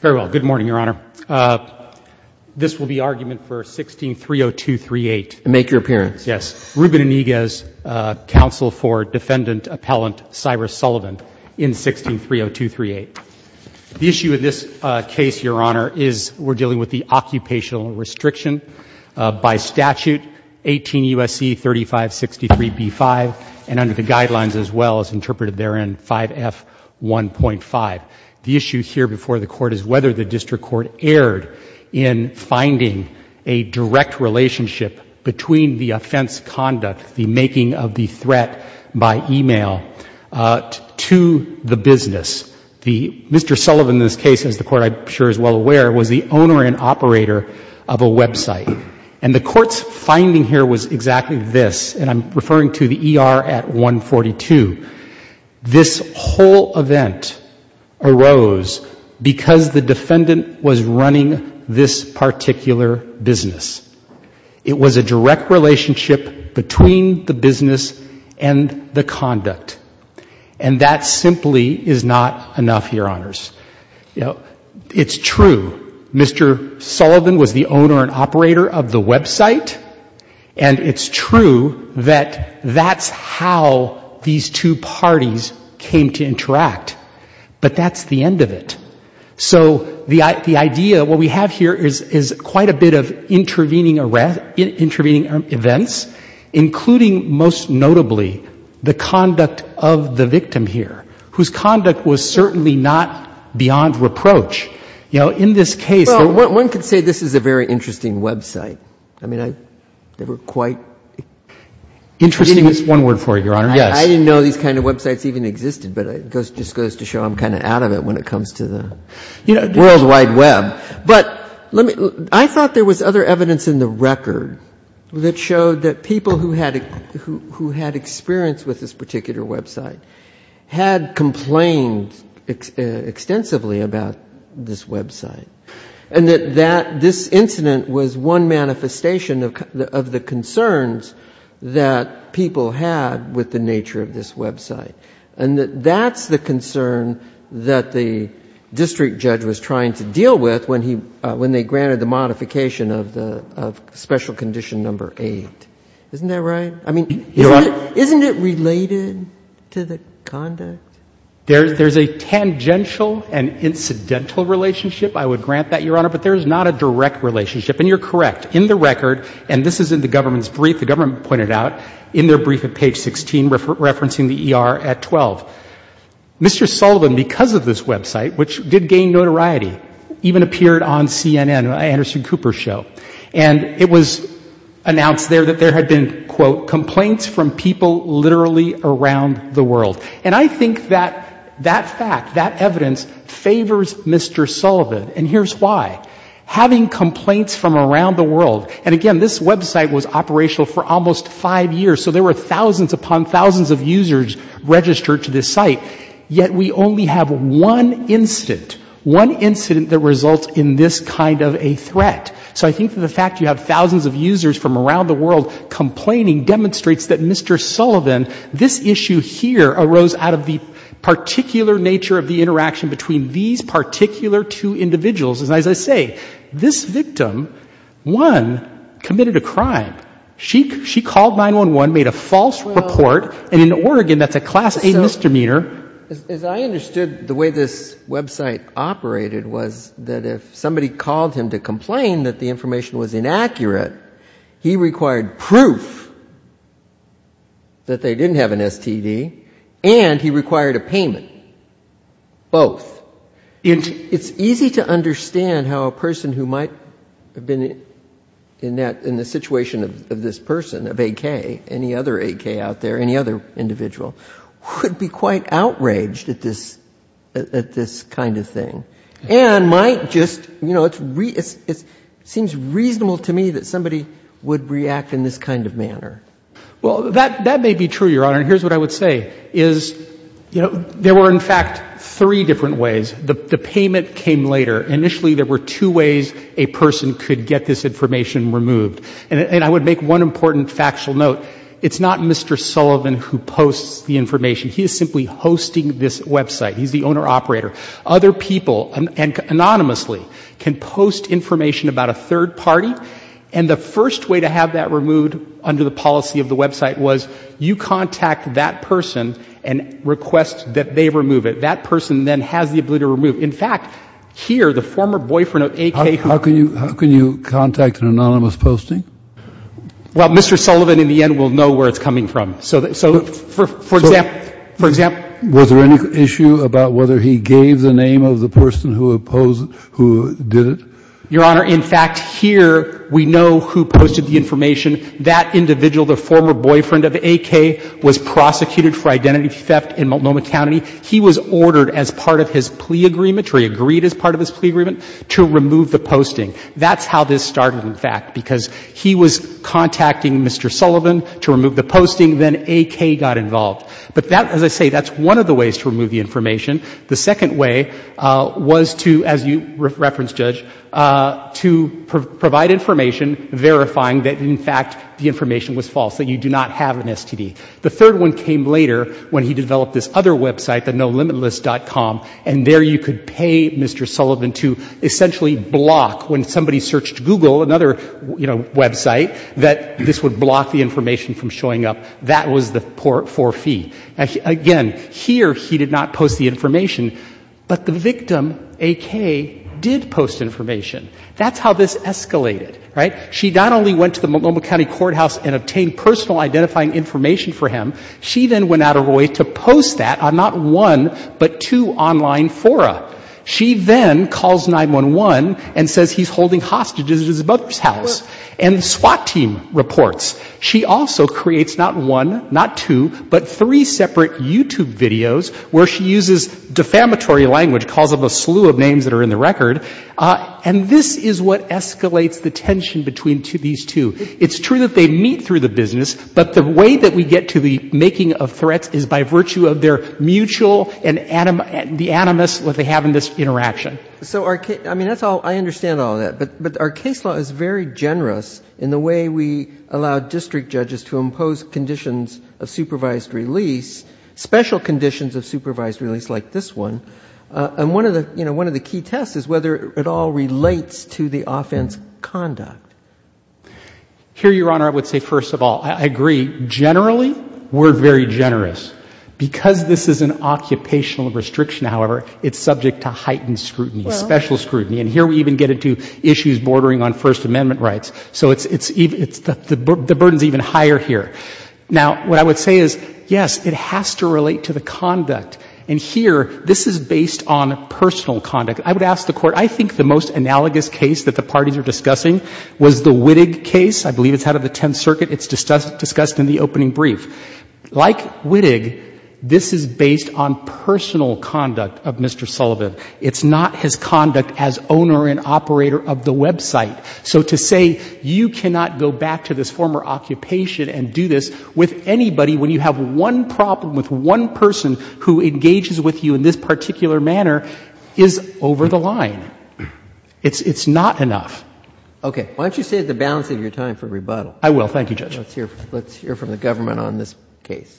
Very well. Good morning, Your Honor. This will be argument for 16-30238. Make your appearance. Yes. Ruben Iniguez, counsel for defendant appellant Cyrus Sullivan in 16-30238. The issue in this case, Your Honor, is we're dealing with the occupational restriction by statute 18 U.S.C. 3563b-5 and under the guidelines as well as interpreted therein, 5F1.5. The issue here before the Court is whether the district court erred in finding a direct relationship between the offense conduct, the making of the threat by e-mail, to the business. Mr. Sullivan, in this case, as the Court, I'm sure, is well aware, was the owner and operator of a website. And the Court's finding here was exactly this, and I'm referring to the ER at 142. This whole event arose because the defendant was running this particular business. It was a direct relationship between the business and the conduct. And that simply is not enough, Your Honors. You know, it's true, Mr. Sullivan was the owner and operator of the website, and it's true that that's how these two parties came to interact. But that's the end of it. So the idea, what we have here is quite a bit of intervening events, including, most notably, the conduct of the victim here, whose conduct was certainly not beyond reproach. You know, in this case the one could say this is a very interesting website. I mean, they were quite interesting. I didn't use one word for it, Your Honor. Yes. I didn't know these kind of websites even existed, but it just goes to show I'm kind of out of it when it comes to the World Wide Web. But I thought there was other evidence in the record that showed that people who had experience with this particular website had complained extensively about this website. And that this incident was one manifestation of the concerns that people had with the nature of this website. And that's the concern that the district judge was trying to deal with when they granted the modification of special condition number 8. Isn't that right? I mean, isn't it related to the conduct? There's a tangential and incidental relationship, I would grant that, Your Honor, but there's not a direct relationship. And you're correct. In the record, and this is in the government's brief, the government pointed out in their brief at page 16, referencing the ER at 12, Mr. Sullivan, because of this website, which did gain notoriety, even appeared on CNN, Anderson Cooper's show. And it was announced there that there had been, quote, complaints from people literally around the world. And I think that that fact, that evidence, favors Mr. Sullivan. And here's why. Having complaints from around the world, and again, this website was operational for almost five years, so there were thousands upon thousands of users registered to this site, yet we only have one incident, one incident that results in this kind of a threat. So I think that the fact you have thousands of users from around the world complaining demonstrates that Mr. Sullivan, this issue here arose out of the particular nature of the interaction between these particular two individuals. And as I say, this victim, one, committed a crime. She called 911, made a false report, and in Oregon, that's a class A misdemeanor. As I understood, the way this website operated was that if somebody called him to complain that the information was inaccurate, he required proof that they didn't have an STD, and he required a payment. Both. It's easy to understand how a person who might have been in the situation of this person, of AK, any other AK out there, any other individual, would be quite outraged at this kind of thing. And might just, you know, it seems reasonable to me that somebody would react in this kind of manner. Well, that may be true, Your Honor. And here's what I would say, is, you know, there were in fact three different ways. The payment came later. Initially, there were two ways a person could get this information removed. And I would make one important factual note. It's not Mr. Sullivan who posts the information. He is simply hosting this website. He's the owner-operator. Other people, anonymously, can post information about a third party. And the first way to have that removed under the policy of the website was you contact that person and request that they remove it. That person then has the ability to remove it. In fact, here, the former boyfriend of AK. How can you contact an anonymous posting? Well, Mr. Sullivan, in the end, will know where it's coming from. So, for example, for example. Was there any issue about whether he gave the name of the person who opposed, who did it? Your Honor, in fact, here, we know who posted the information. That individual, the former boyfriend of AK, was prosecuted for identity theft in Multnomah County. He was ordered as part of his plea agreement, or he agreed as part of his plea agreement, to remove the posting. That's how this started, in fact, because he was contacting Mr. Sullivan to remove the posting. Then AK got involved. But that, as I say, that's one of the ways to remove the information. The second way was to, as you reference, Judge, to provide information verifying that, in fact, the information was false, that you do not have an STD. The third one came later, when he developed this other website, the nolimitless.com, and there you could pay Mr. Sullivan to essentially block, when somebody searched Google, another, you know, website, that this would block the information from showing up. That was the for fee. Again, here, he did not post the information. But the victim, AK, did post information. That's how this escalated, right? She not only went to the Multnomah County Courthouse and obtained personal identifying information for him, she then went out of her way to post that on not one, but two online fora. She then calls 911 and says he's holding hostages at his mother's house. And SWAT team reports she also creates not one, not two, but three separate YouTube videos where she uses defamatory language, calls up a slew of names that are in the record, and this is what escalates the tension between these two. It's true that they meet through the business, but the way that we get to the making of threats is by virtue of their mutual and the animus that they have in this interaction. But our case law is very generous in the way we allow district judges to impose conditions of supervised release, special conditions of supervised release like this one. And one of the key tests is whether it all relates to the offense conduct. Here, Your Honor, I would say first of all, I agree, generally we're very generous. Because this is an occupational restriction, however, it's subject to heightened scrutiny, special scrutiny. And here we even get into issues bordering on First Amendment rights. So the burden is even higher here. Now, what I would say is, yes, it has to relate to the conduct. And here, this is based on personal conduct. I would ask the Court, I think the most analogous case that the parties are discussing was the Wittig case. I believe it's out of the Tenth Circuit. It's discussed in the opening brief. Like Wittig, this is based on personal conduct of Mr. Sullivan. It's not his conduct as owner and operator of the website. So to say you cannot go back to this former occupation and do this with anybody when you have one problem with one person who engages with you in this particular manner is over the line. It's not enough. Okay. Why don't you save the balance of your time for rebuttal? I will. Thank you, Judge. Let's hear from the government on this case.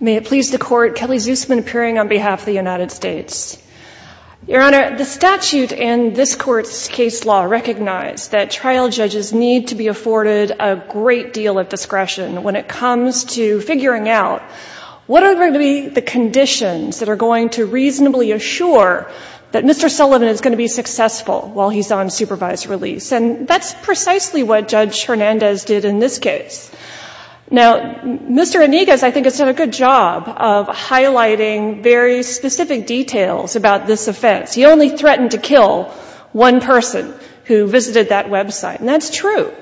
May it please the Court. Kelly Zusman appearing on behalf of the United States. Your Honor, the statute in this Court's case law recognized that trial judges need to be afforded a great deal of discretion when it comes to figuring out what are going to be the conditions that Mr. Sullivan is going to be successful while he's on supervised release. And that's precisely what Judge Hernandez did in this case. Now, Mr. Enigas, I think, has done a good job of highlighting very specific details about this offense. He only threatened to kill one person who visited that website. And that's true.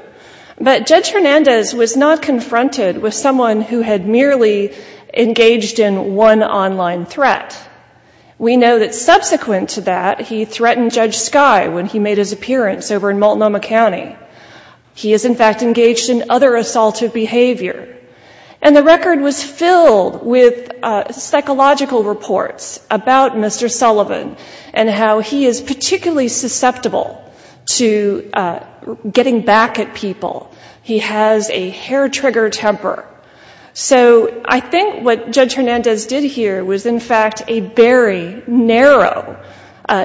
But Judge Hernandez was not confronted with someone who had merely engaged in one online threat. We know that subsequent to that, he threatened Judge Skye when he made his appearance over in Multnomah County. He is, in fact, engaged in other assaultive behavior. And the record was filled with psychological reports about Mr. Sullivan and how he is particularly susceptible to getting back at people. He has a hair-trigger temper. So I think what Judge Hernandez did here was, in fact, a very narrow,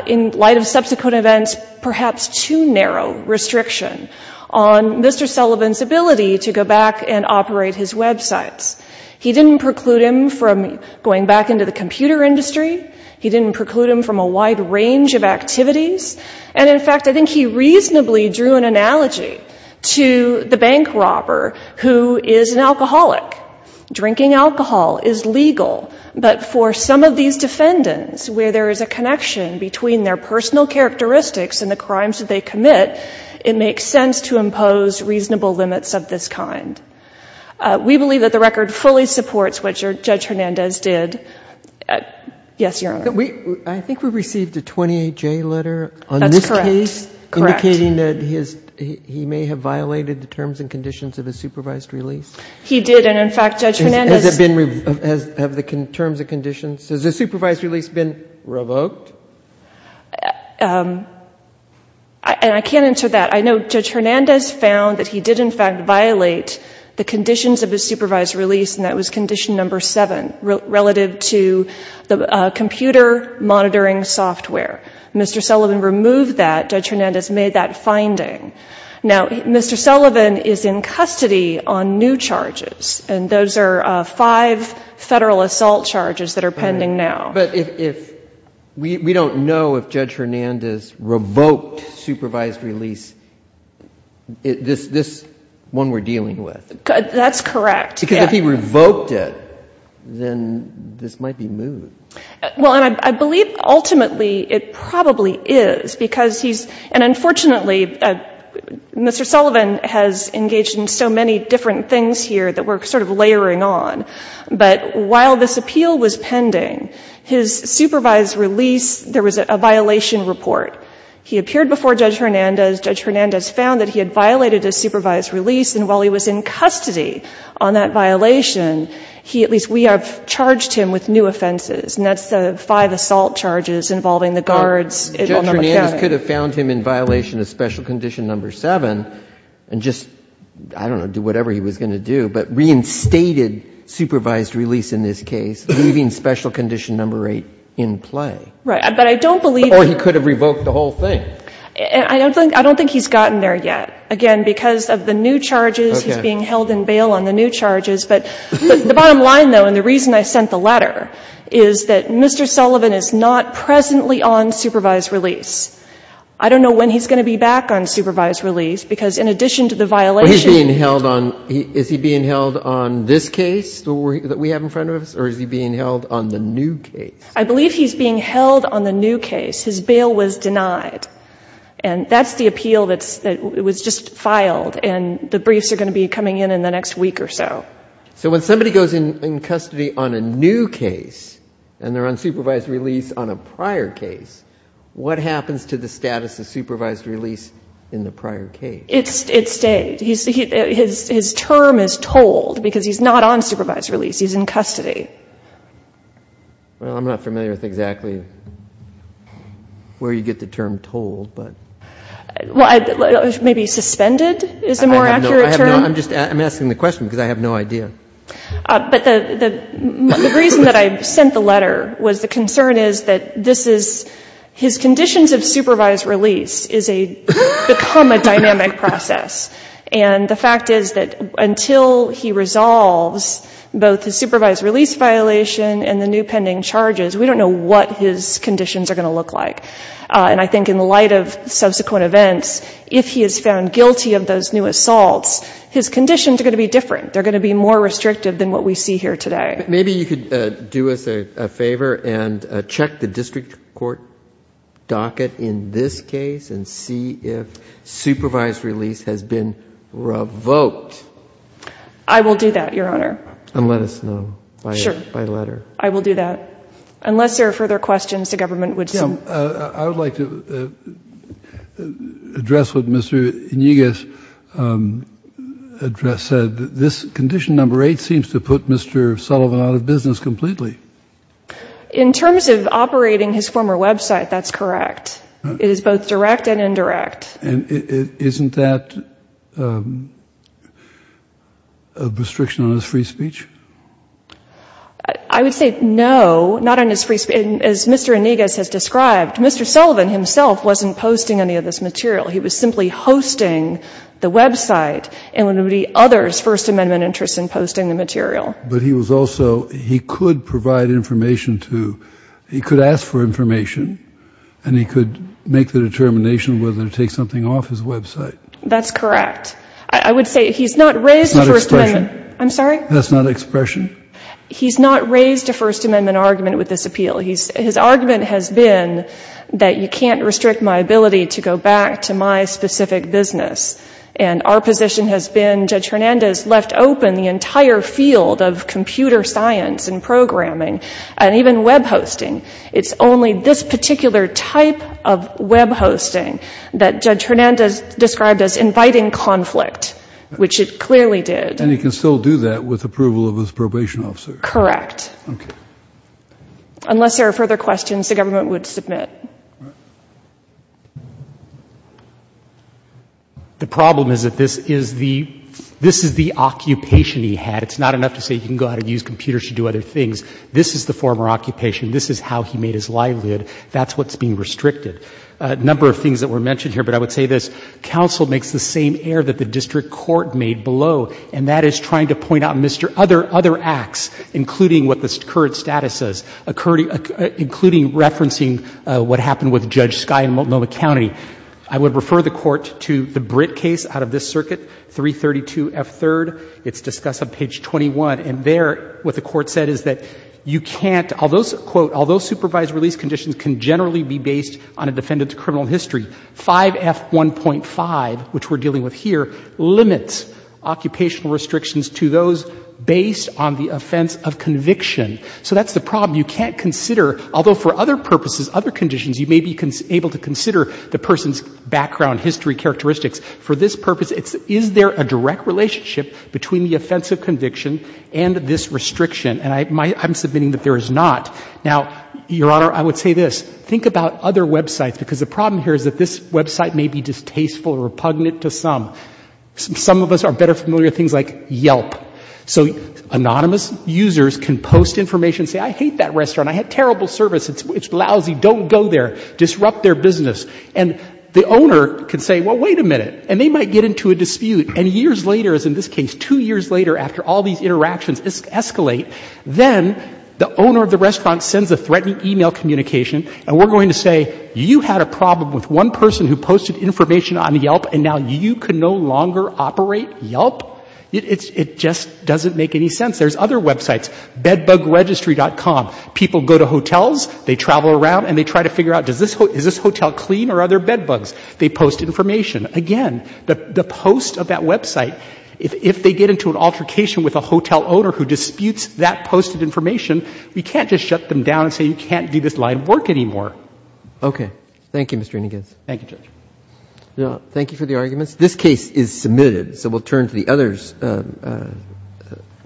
in light of subsequent events, perhaps too narrow restriction on Mr. Sullivan's ability to go back and operate his websites. He didn't preclude him from going back into the computer industry. He didn't preclude him from a wide range of activities. And, in fact, I think he reasonably drew an analogy to the bank robber who is an alcoholic. Drinking alcohol is legal. But for some of these defendants, where there is a connection between their personal characteristics and the crimes that they commit, it makes sense to impose reasonable limits of this kind. We believe that the record fully supports what Judge Hernandez did. Yes, Your Honor. I think we received a 28-J letter on this case. That's correct. Correct. Indicating that he may have violated the terms and conditions of his supervised release. He did. And, in fact, Judge Hernandez — Has it been — have the terms and conditions — has the supervised release been revoked? And I can't answer that. I know Judge Hernandez found that he did, in fact, violate the conditions of his supervised release, and that was condition number seven, relative to the computer monitoring software. Mr. Sullivan removed that. Judge Hernandez made that finding. Now, Mr. Sullivan is in custody on new charges, and those are five Federal assault charges that are pending now. But if — we don't know if Judge Hernandez revoked supervised release, this one we're dealing with. That's correct. Because if he revoked it, then this might be moved. Well, and I believe, ultimately, it probably is, because he's — and, unfortunately, Mr. Sullivan has engaged in so many different things here that we're sort of layering on. But while this appeal was pending, his supervised release, there was a violation report. He appeared before Judge Hernandez. Judge Hernandez found that he had violated his supervised release, and while he was in custody on that violation, he — at least we have charged him with new offenses, and that's the five assault charges involving the guards. Judge Hernandez could have found him in violation of special condition number seven and just, I don't know, do whatever he was going to do, but reinstated supervised release in this case, leaving special condition number eight in play. Right. But I don't believe — Or he could have revoked the whole thing. I don't think he's gotten there yet. Again, because of the new charges, he's being held in bail on the new charges. But the bottom line, though, and the reason I sent the letter, is that Mr. Sullivan is not presently on supervised release. I don't know when he's going to be back on supervised release, because in addition to the violation — But he's being held on — is he being held on this case that we have in front of us, or is he being held on the new case? I believe he's being held on the new case. His bail was denied. And that's the appeal that was just filed, and the briefs are going to be coming in in the next week or so. So when somebody goes in custody on a new case, and they're on supervised release on a prior case, what happens to the status of supervised release in the prior case? It stays. His term is told, because he's not on supervised release. He's in custody. Well, I'm not familiar with exactly where you get the term told, but — Well, maybe suspended is a more accurate term? I have no — I'm just — I'm asking the question, because I have no idea. But the reason that I sent the letter was the concern is that this is — his conditions of supervised release is a — become a dynamic process. And the fact is that until he resolves both his supervised release violation and the new pending charges, we don't know what his conditions are going to look like. And I think in the light of subsequent events, if he is found guilty of those new assaults, his conditions are going to be different. They're going to be more restrictive than what we see here today. Maybe you could do us a favor and check the district court docket in this case and see if supervised release has been revoked. I will do that, Your Honor. And let us know by letter. Sure. I will do that. Unless there are further questions, the government would — Jim, I would like to address what Mr. Iniguez said. This condition number eight seems to put Mr. Sullivan out of business completely. In terms of operating his former website, that's correct. It is both direct and indirect. And isn't that a restriction on his free speech? I would say no, not on his free speech. As Mr. Iniguez has described, Mr. Sullivan himself wasn't posting any of this material. He was simply hosting the website and would be others' First Amendment interests in posting the material. But he was also — he could provide information to — he could ask for information, and he could make the determination whether to take something off his website. That's correct. I would say he's not raised a First Amendment — That's not expression. I'm sorry? That's not expression. He's not raised a First Amendment argument with this appeal. His argument has been that you can't restrict my ability to go back to my specific business. And our position has been Judge Hernandez left open the entire field of computer science and programming, and even web hosting. It's only this particular type of web hosting that Judge Hernandez described as inviting conflict, which it clearly did. And he can still do that with approval of his probation officer? Correct. Okay. Unless there are further questions, the government would submit. The problem is that this is the occupation he had. It's not enough to say you can go out and use computers to do other things. This is the former occupation. This is how he made his livelihood. That's what's being restricted. A number of things that were mentioned here, but I would say this. that the district court made below, and that is trying to point out other acts, including what the current status says, including referencing what happened with Judge Skye in Multnomah County. I would refer the Court to the Britt case out of this circuit, 332F3rd. It's discussed on page 21. And there, what the Court said is that you can't — Although supervised release conditions can generally be based on a defendant's criminal history, 5F1.5, which we're dealing with here, limits occupational restrictions to those based on the offense of conviction. So that's the problem. You can't consider, although for other purposes, other conditions, you may be able to consider the person's background, history, characteristics. For this purpose, is there a direct relationship between the offense of conviction and this restriction? And I'm submitting that there is not. Now, Your Honor, I would say this. Think about other websites, because the problem here is that this website may be distasteful or repugnant to some. Some of us are better familiar with things like Yelp. So anonymous users can post information and say, I hate that restaurant. I had terrible service. It's lousy. Don't go there. Disrupt their business. And the owner can say, well, wait a minute. And they might get into a dispute. And years later, as in this case, two years later, after all these interactions escalate, then the owner of the restaurant sends a threatening e-mail communication, and we're going to say, you had a problem with one person who posted information on Yelp, and now you can no longer operate Yelp? It just doesn't make any sense. There's other websites. Bedbugregistry.com. People go to hotels. They travel around, and they try to figure out, is this hotel clean or are there bedbugs? They post information. Again, the post of that website, if they get into an altercation with a hotel owner who disputes that posted information, we can't just shut them down and say, you can't do this line of work anymore. Roberts. Okay. Thank you, Mr. Inneges. Thank you, Judge. Thank you for the arguments. This case is submitted, so we'll turn to the other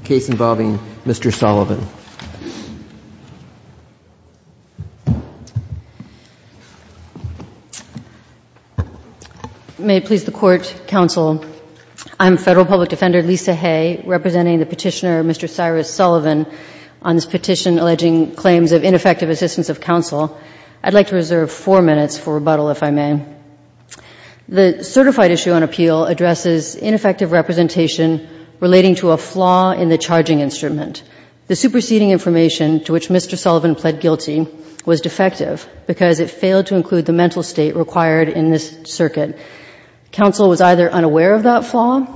case involving Mr. Sullivan. May it please the Court, Counsel, I'm Federal Public Defender Lisa Hay representing the Petitioner, Mr. Cyrus Sullivan, on this petition alleging claims of ineffective assistance of counsel. I'd like to reserve four minutes for rebuttal, if I may. The certified issue on appeal addresses ineffective representation relating to a flaw in the charging instrument. The superseding information to which Mr. Sullivan pled guilty was defective because it failed to include the mental state required in this circuit. Counsel was either unaware of that flaw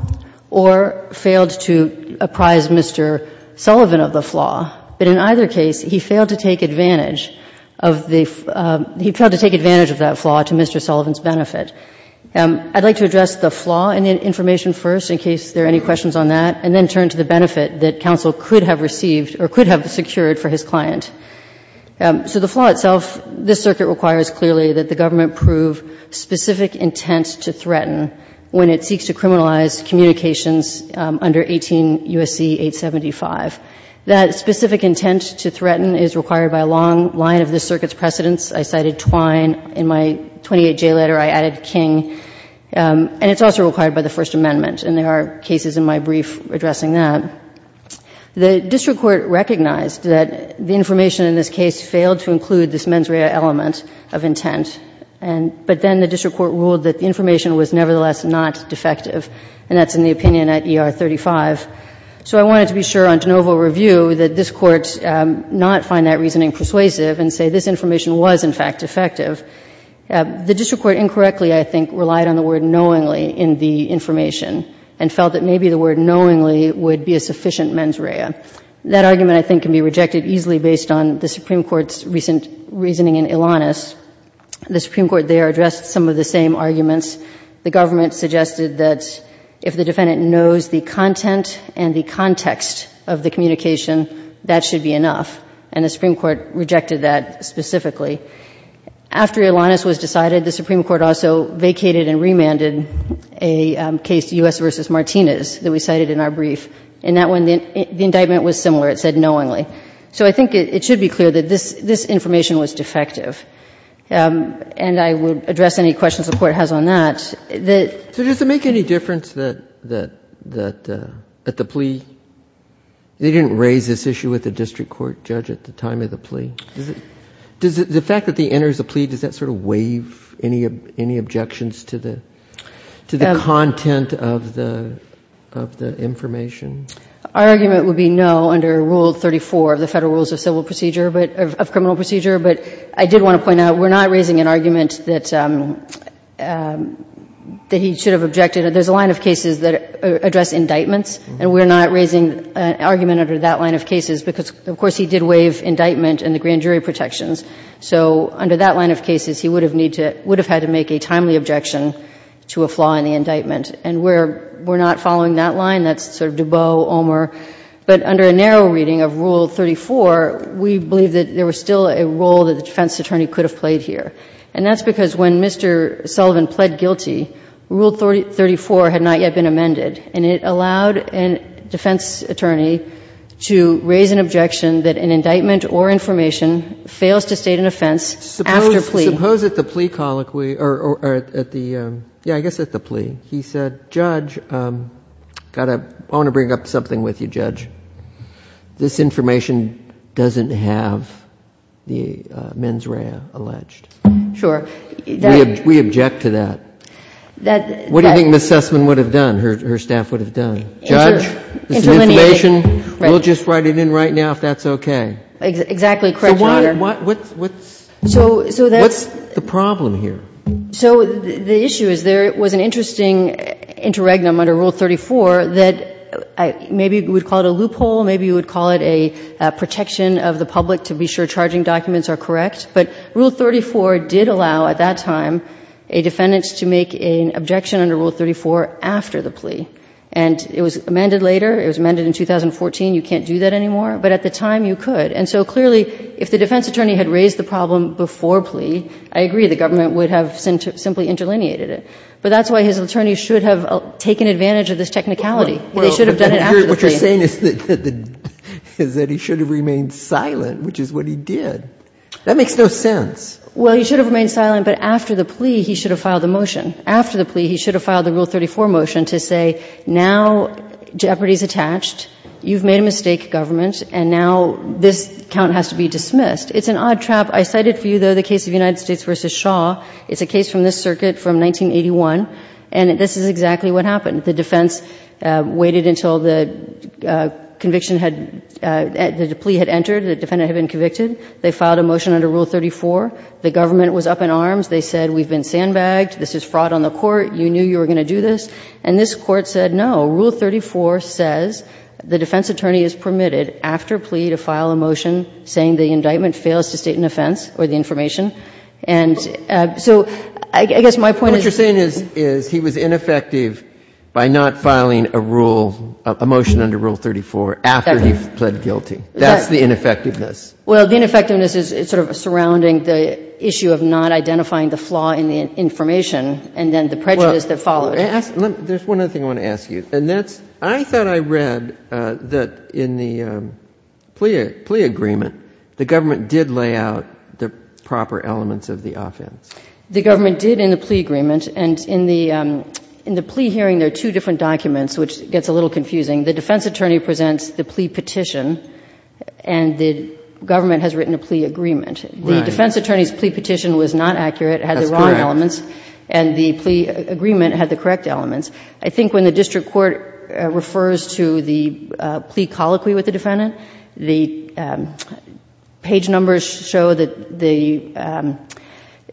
or failed to apprise Mr. Sullivan of the flaw. But in either case, he failed to take advantage of that flaw to Mr. Sullivan's benefit. I'd like to address the flaw in the information first, in case there are any questions on that, and then turn to the benefit that counsel could have received or could have secured for his client. So the flaw itself, this circuit requires clearly that the government prove specific intent to threaten when it seeks to criminalize communications under 18 U.S.C. 875. That specific intent to threaten is required by a long line of this circuit's precedents. I cited Twine. In my 28J letter, I added King. And it's also required by the First Amendment. And there are cases in my brief addressing that. The district court recognized that the information in this case failed to include this mens rea element of intent. But then the district court ruled that the information was nevertheless not defective. And that's in the opinion at ER 35. So I wanted to be sure on de novo review that this Court not find that reasoning persuasive and say this information was, in fact, defective. The district court incorrectly, I think, relied on the word knowingly in the information and felt that maybe the word knowingly would be a sufficient mens rea. That argument, I think, can be rejected easily based on the Supreme Court's recent reasoning in Ilanis. The Supreme Court there addressed some of the same arguments. The government suggested that if the defendant knows the content and the context of the communication, that should be enough. And the Supreme Court rejected that specifically. After Ilanis was decided, the Supreme Court also vacated and remanded a case, U.S. v. Martinez, that we cited in our brief. In that one, the indictment was similar. It said knowingly. So I think it should be clear that this information was defective. And I would address any questions the Court has on that. So does it make any difference that at the plea, they didn't raise this issue with the district court judge at the time of the plea? Does the fact that he enters the plea, does that sort of waive any objections to the content of the information? Our argument would be no under Rule 34 of the Federal Rules of Civil Procedure of Criminal Procedure. But I did want to point out we're not raising an argument that he should have objected. There's a line of cases that address indictments. And we're not raising an argument under that line of cases because, of course, he did waive indictment and the grand jury protections. So under that line of cases, he would have had to make a timely objection to a flaw in the indictment. And we're not following that line. That's sort of Dubot, Omer. But under a narrow reading of Rule 34, we believe that there was still a role that the defense attorney could have played here. And that's because when Mr. Sullivan pled guilty, Rule 34 had not yet been amended. And it allowed a defense attorney to raise an objection that an indictment or information fails to state an offense after plea. Suppose at the plea colloquy or at the, yeah, I guess at the plea, he said, Judge, I want to bring up something with you, Judge. This information doesn't have the mens rea alleged. Sure. We object to that. What do you think Ms. Sussman would have done, her staff would have done? Judge, this information, we'll just write it in right now if that's okay. Exactly correct, Your Honor. So what's the problem here? So the issue is there was an interesting interregnum under Rule 34 that maybe you would call it a loophole, maybe you would call it a protection of the public to be sure charging documents are correct. But Rule 34 did allow at that time a defendant to make an objection under Rule 34 after the plea. And it was amended later. It was amended in 2014. You can't do that anymore. But at the time you could. And so clearly if the defense attorney had raised the problem before plea, I agree the government would have simply interlineated it. But that's why his attorneys should have taken advantage of this technicality. They should have done it after the plea. But what you're saying is that he should have remained silent, which is what he did. That makes no sense. Well, he should have remained silent, but after the plea he should have filed the motion. After the plea he should have filed the Rule 34 motion to say now jeopardy is attached, you've made a mistake, government, and now this count has to be dismissed. It's an odd trap. I cited for you, though, the case of United States v. Shaw. It's a case from this circuit from 1981. And this is exactly what happened. The defense waited until the conviction had — the plea had entered, the defendant had been convicted. They filed a motion under Rule 34. The government was up in arms. They said we've been sandbagged. This is fraud on the court. You knew you were going to do this. And this Court said no. Rule 34 says the defense attorney is permitted after plea to file a motion saying the indictment fails to state an offense or the information. And so I guess my point is — Well, what you're saying is he was ineffective by not filing a rule — a motion under Rule 34 after he pled guilty. That's the ineffectiveness. Well, the ineffectiveness is sort of surrounding the issue of not identifying the flaw in the information and then the prejudice that followed. Well, let me ask — there's one other thing I want to ask you. And that's — I thought I read that in the plea agreement, the government did lay out the proper elements of the offense. The government did in the plea agreement. And in the plea hearing, there are two different documents, which gets a little confusing. The defense attorney presents the plea petition, and the government has written a plea agreement. Right. The defense attorney's plea petition was not accurate. It had the wrong elements. That's correct. And the plea agreement had the correct elements. I think when the district court refers to the plea colloquy with the defendant, the page numbers show that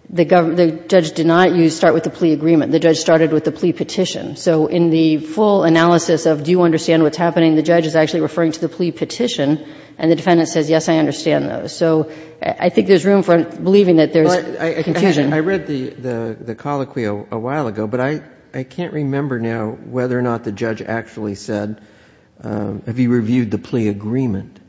the judge did not start with the plea agreement. The judge started with the plea petition. So in the full analysis of do you understand what's happening, the judge is actually referring to the plea petition, and the defendant says, yes, I understand those. So I think there's room for believing that there's confusion. I read the colloquy a while ago, but I can't remember now whether or not the judge actually said, have you reviewed the plea agreement.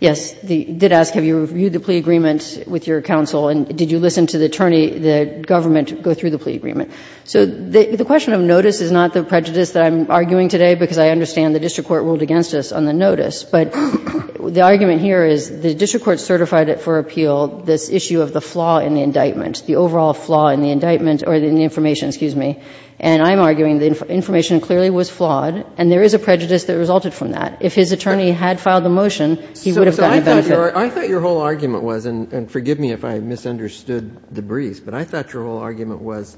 Yes. It did ask, have you reviewed the plea agreement with your counsel? And did you listen to the attorney, the government, go through the plea agreement? So the question of notice is not the prejudice that I'm arguing today, because I understand the district court ruled against us on the notice. But the argument here is the district court certified it for appeal, this issue of the flaw in the indictment, the overall flaw in the indictment or in the information, excuse me. And I'm arguing the information clearly was flawed, and there is a prejudice that resulted from that. If his attorney had filed the motion, he would have gotten the benefit. So I thought your whole argument was, and forgive me if I misunderstood the briefs, but I thought your whole argument was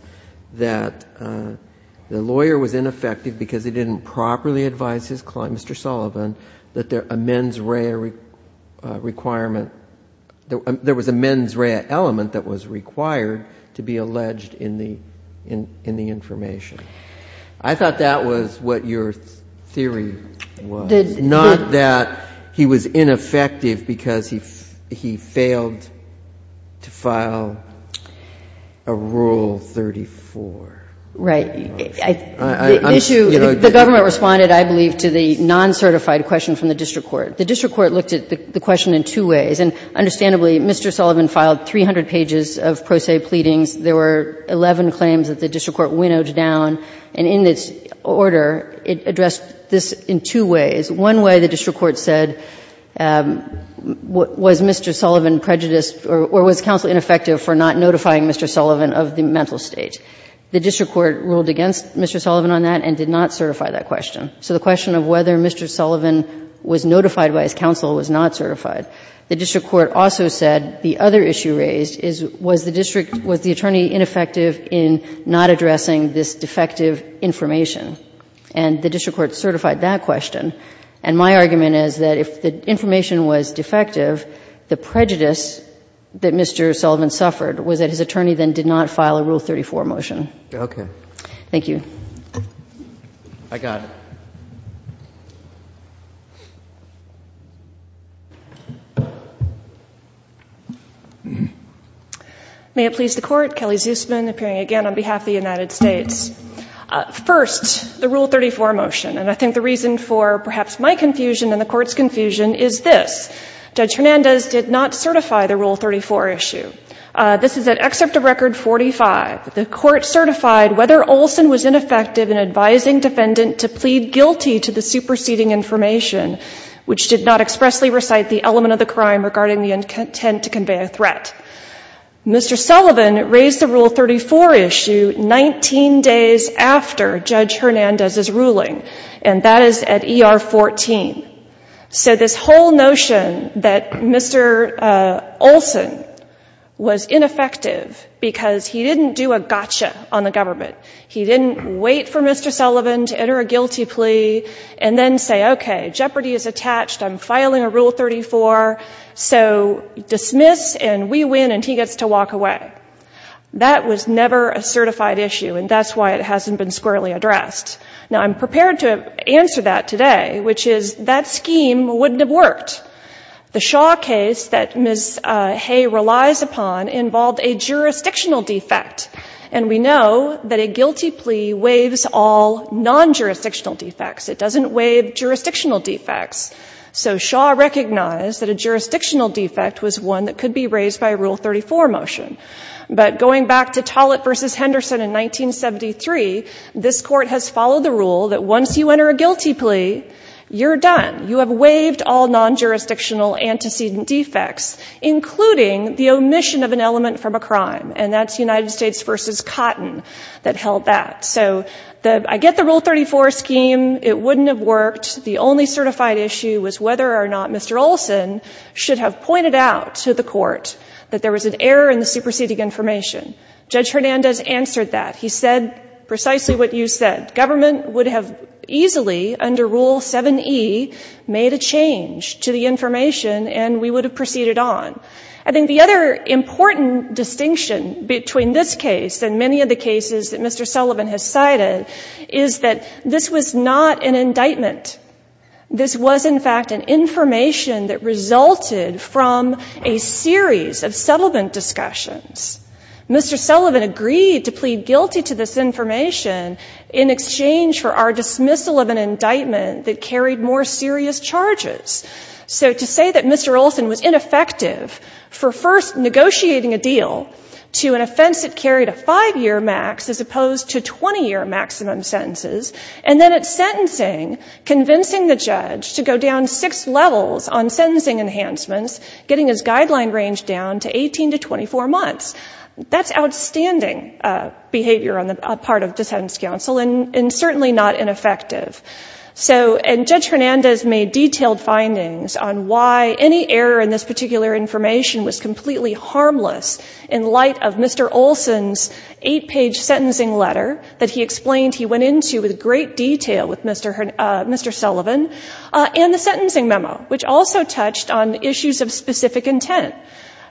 that the lawyer was ineffective because he didn't properly advise his client, Mr. Sullivan, that there was a mens rea element that was required to be alleged in the information. I thought that was what your theory was. Not that he was ineffective because he failed to file a Rule 34. Right. The issue, the government responded, I believe, to the non-certified question from the district court. The district court looked at the question in two ways. And understandably, Mr. Sullivan filed 300 pages of pro se pleadings. There were 11 claims that the district court winnowed down. And in this order, it addressed this in two ways. One way, the district court said, was Mr. Sullivan prejudiced or was counsel ineffective for not notifying Mr. Sullivan of the mental state? The district court ruled against Mr. Sullivan on that and did not certify that question. So the question of whether Mr. Sullivan was notified by his counsel was not certified. The district court also said the other issue raised is, was the district, was the attorney ineffective in not addressing this defective information? And the district court certified that question. And my argument is that if the information was defective, the prejudice that Mr. Sullivan suffered was that his attorney then did not file a Rule 34 motion. Okay. Thank you. I got it. May it please the court. Kelly Zusman, appearing again on behalf of the United States. First, the Rule 34 motion. And I think the reason for perhaps my confusion and the court's confusion is this. Judge Hernandez did not certify the Rule 34 issue. This is an excerpt of Record 45. The court certified whether Olson was ineffective in advising defendant to plead guilty to the superseding information, which did not expressly recite the element of the crime regarding the intent to convey a threat. Mr. Sullivan raised the Rule 34 issue 19 days after Judge Hernandez's ruling. And that is at ER 14. So this whole notion that Mr. Olson was ineffective because he didn't do a gotcha on the government. He didn't wait for Mr. Sullivan to enter a guilty plea and then say, okay, jeopardy is attached. I'm filing a Rule 34. So dismiss and we win and he gets to walk away. That was never a certified issue and that's why it hasn't been squarely addressed. Now, I'm prepared to answer that today, which is that scheme wouldn't have worked. The Shaw case that Ms. Hay relies upon involved a jurisdictional defect. And we know that a guilty plea waives all non-jurisdictional defects. It doesn't waive jurisdictional defects. So Shaw recognized that a jurisdictional defect was one that could be raised by a Rule 34 motion. But going back to Tollett v. Henderson in 1973, this court has followed the rule that once you enter a guilty plea, you're done. You have waived all non-jurisdictional antecedent defects, including the omission of an element from a crime. And that's United States v. Cotton that held that. So I get the Rule 34 scheme. It wouldn't have worked. The only certified issue was whether or not Mr. Olson should have pointed out to the court that there was an error in the superseding information. Judge Hernandez answered that. He said precisely what you said. Government would have easily, under Rule 7e, made a change to the information and we would have proceeded on. I think the other important distinction between this case and many of the cases that was, in fact, an information that resulted from a series of settlement discussions. Mr. Sullivan agreed to plead guilty to this information in exchange for our dismissal of an indictment that carried more serious charges. So to say that Mr. Olson was ineffective for first negotiating a deal to an offense that carried a five-year max as opposed to 20-year maximum sentences, and then at sentencing the judge to go down six levels on sentencing enhancements, getting his guideline range down to 18 to 24 months, that's outstanding behavior on the part of the Sentence Council and certainly not ineffective. And Judge Hernandez made detailed findings on why any error in this particular information was completely harmless in light of Mr. Olson's eight-page sentencing letter that he explained he went into with great detail with Mr. Sullivan and the sentencing memo, which also touched on issues of specific intent.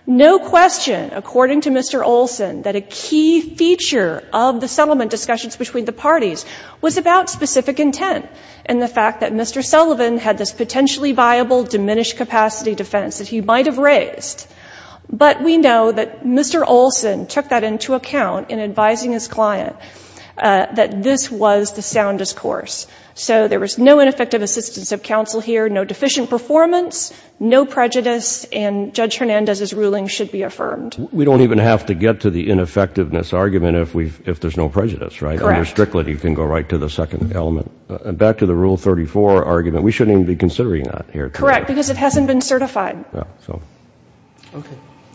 No question, according to Mr. Olson, that a key feature of the settlement discussions between the parties was about specific intent and the fact that Mr. Sullivan had this potentially viable diminished capacity defense that he might have phrased. But we know that Mr. Olson took that into account in advising his client that this was the soundest course. So there was no ineffective assistance of counsel here, no deficient performance, no prejudice, and Judge Hernandez's ruling should be affirmed. We don't even have to get to the ineffectiveness argument if there's no prejudice, right? Correct. If there's strictly, you can go right to the second element. And back to the Rule 34 argument, we shouldn't even be considering that here. Correct, because it hasn't been certified. Okay.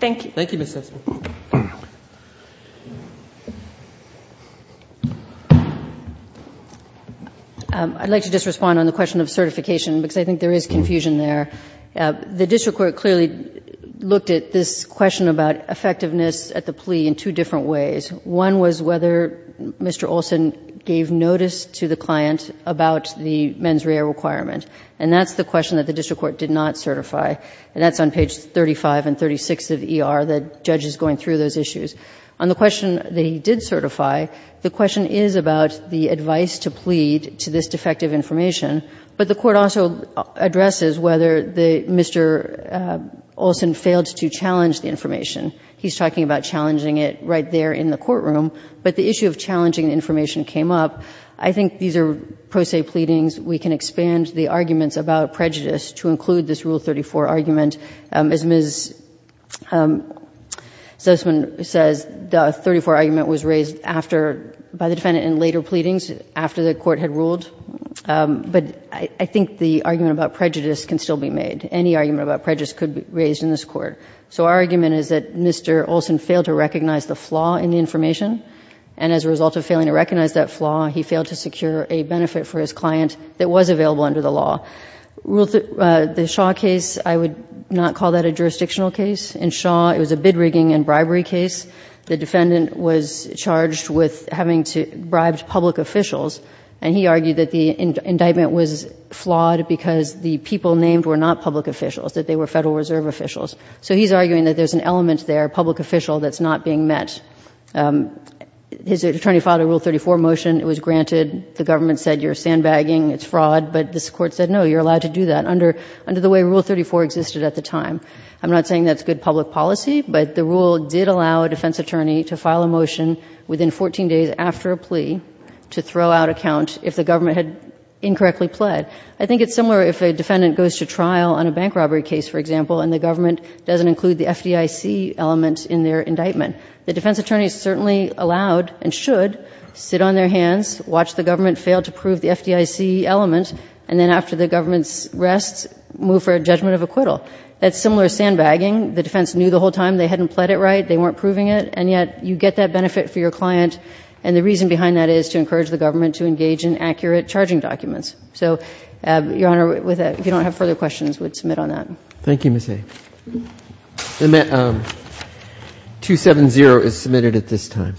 Thank you. Thank you, Ms. Sessman. I'd like to just respond on the question of certification, because I think there is confusion there. The district court clearly looked at this question about effectiveness at the plea in two different ways. One was whether Mr. Olson gave notice to the client about the mens rea requirement. And that's the question that the district court did not certify. And that's on page 35 and 36 of ER, the judge is going through those issues. On the question that he did certify, the question is about the advice to plead to this defective information. But the court also addresses whether Mr. Olson failed to recognize the flaw in the information in the court room. But the issue of challenging information came up. I think these are pro se pleadings. We can expand the arguments about prejudice to include this Rule 34 argument. As Ms. Sessman says, the 34 argument was raised after, by the defendant in later pleadings, after the court had ruled. But I think the argument about prejudice can still be made. Any argument about prejudice can still be made. His attorney filed a Rule 34 motion. It was granted. The government said, you're sandbagging, it's fraud. But this court said, no, you're allowed to do that under the way Rule 34 existed at the time. I'm not saying that's good public policy, but the rule did allow a defense attorney to file a motion within 14 days after a plea to throw out a count if the government had incorrectly pled. I think it's similar if a defendant goes to trial on a bank robbery case, for example, and the government doesn't include the FDIC element in their indictment. The defense attorney is certainly allowed, and should, sit on their hands, watch the government fail to prove the FDIC element, and then after the government's rest, move for a judgment of acquittal. That's similar to sandbagging. The defense knew the whole time. They hadn't pled it right. They weren't proving it. And yet you get that benefit for your case. Okay. 270 is submitted at this time.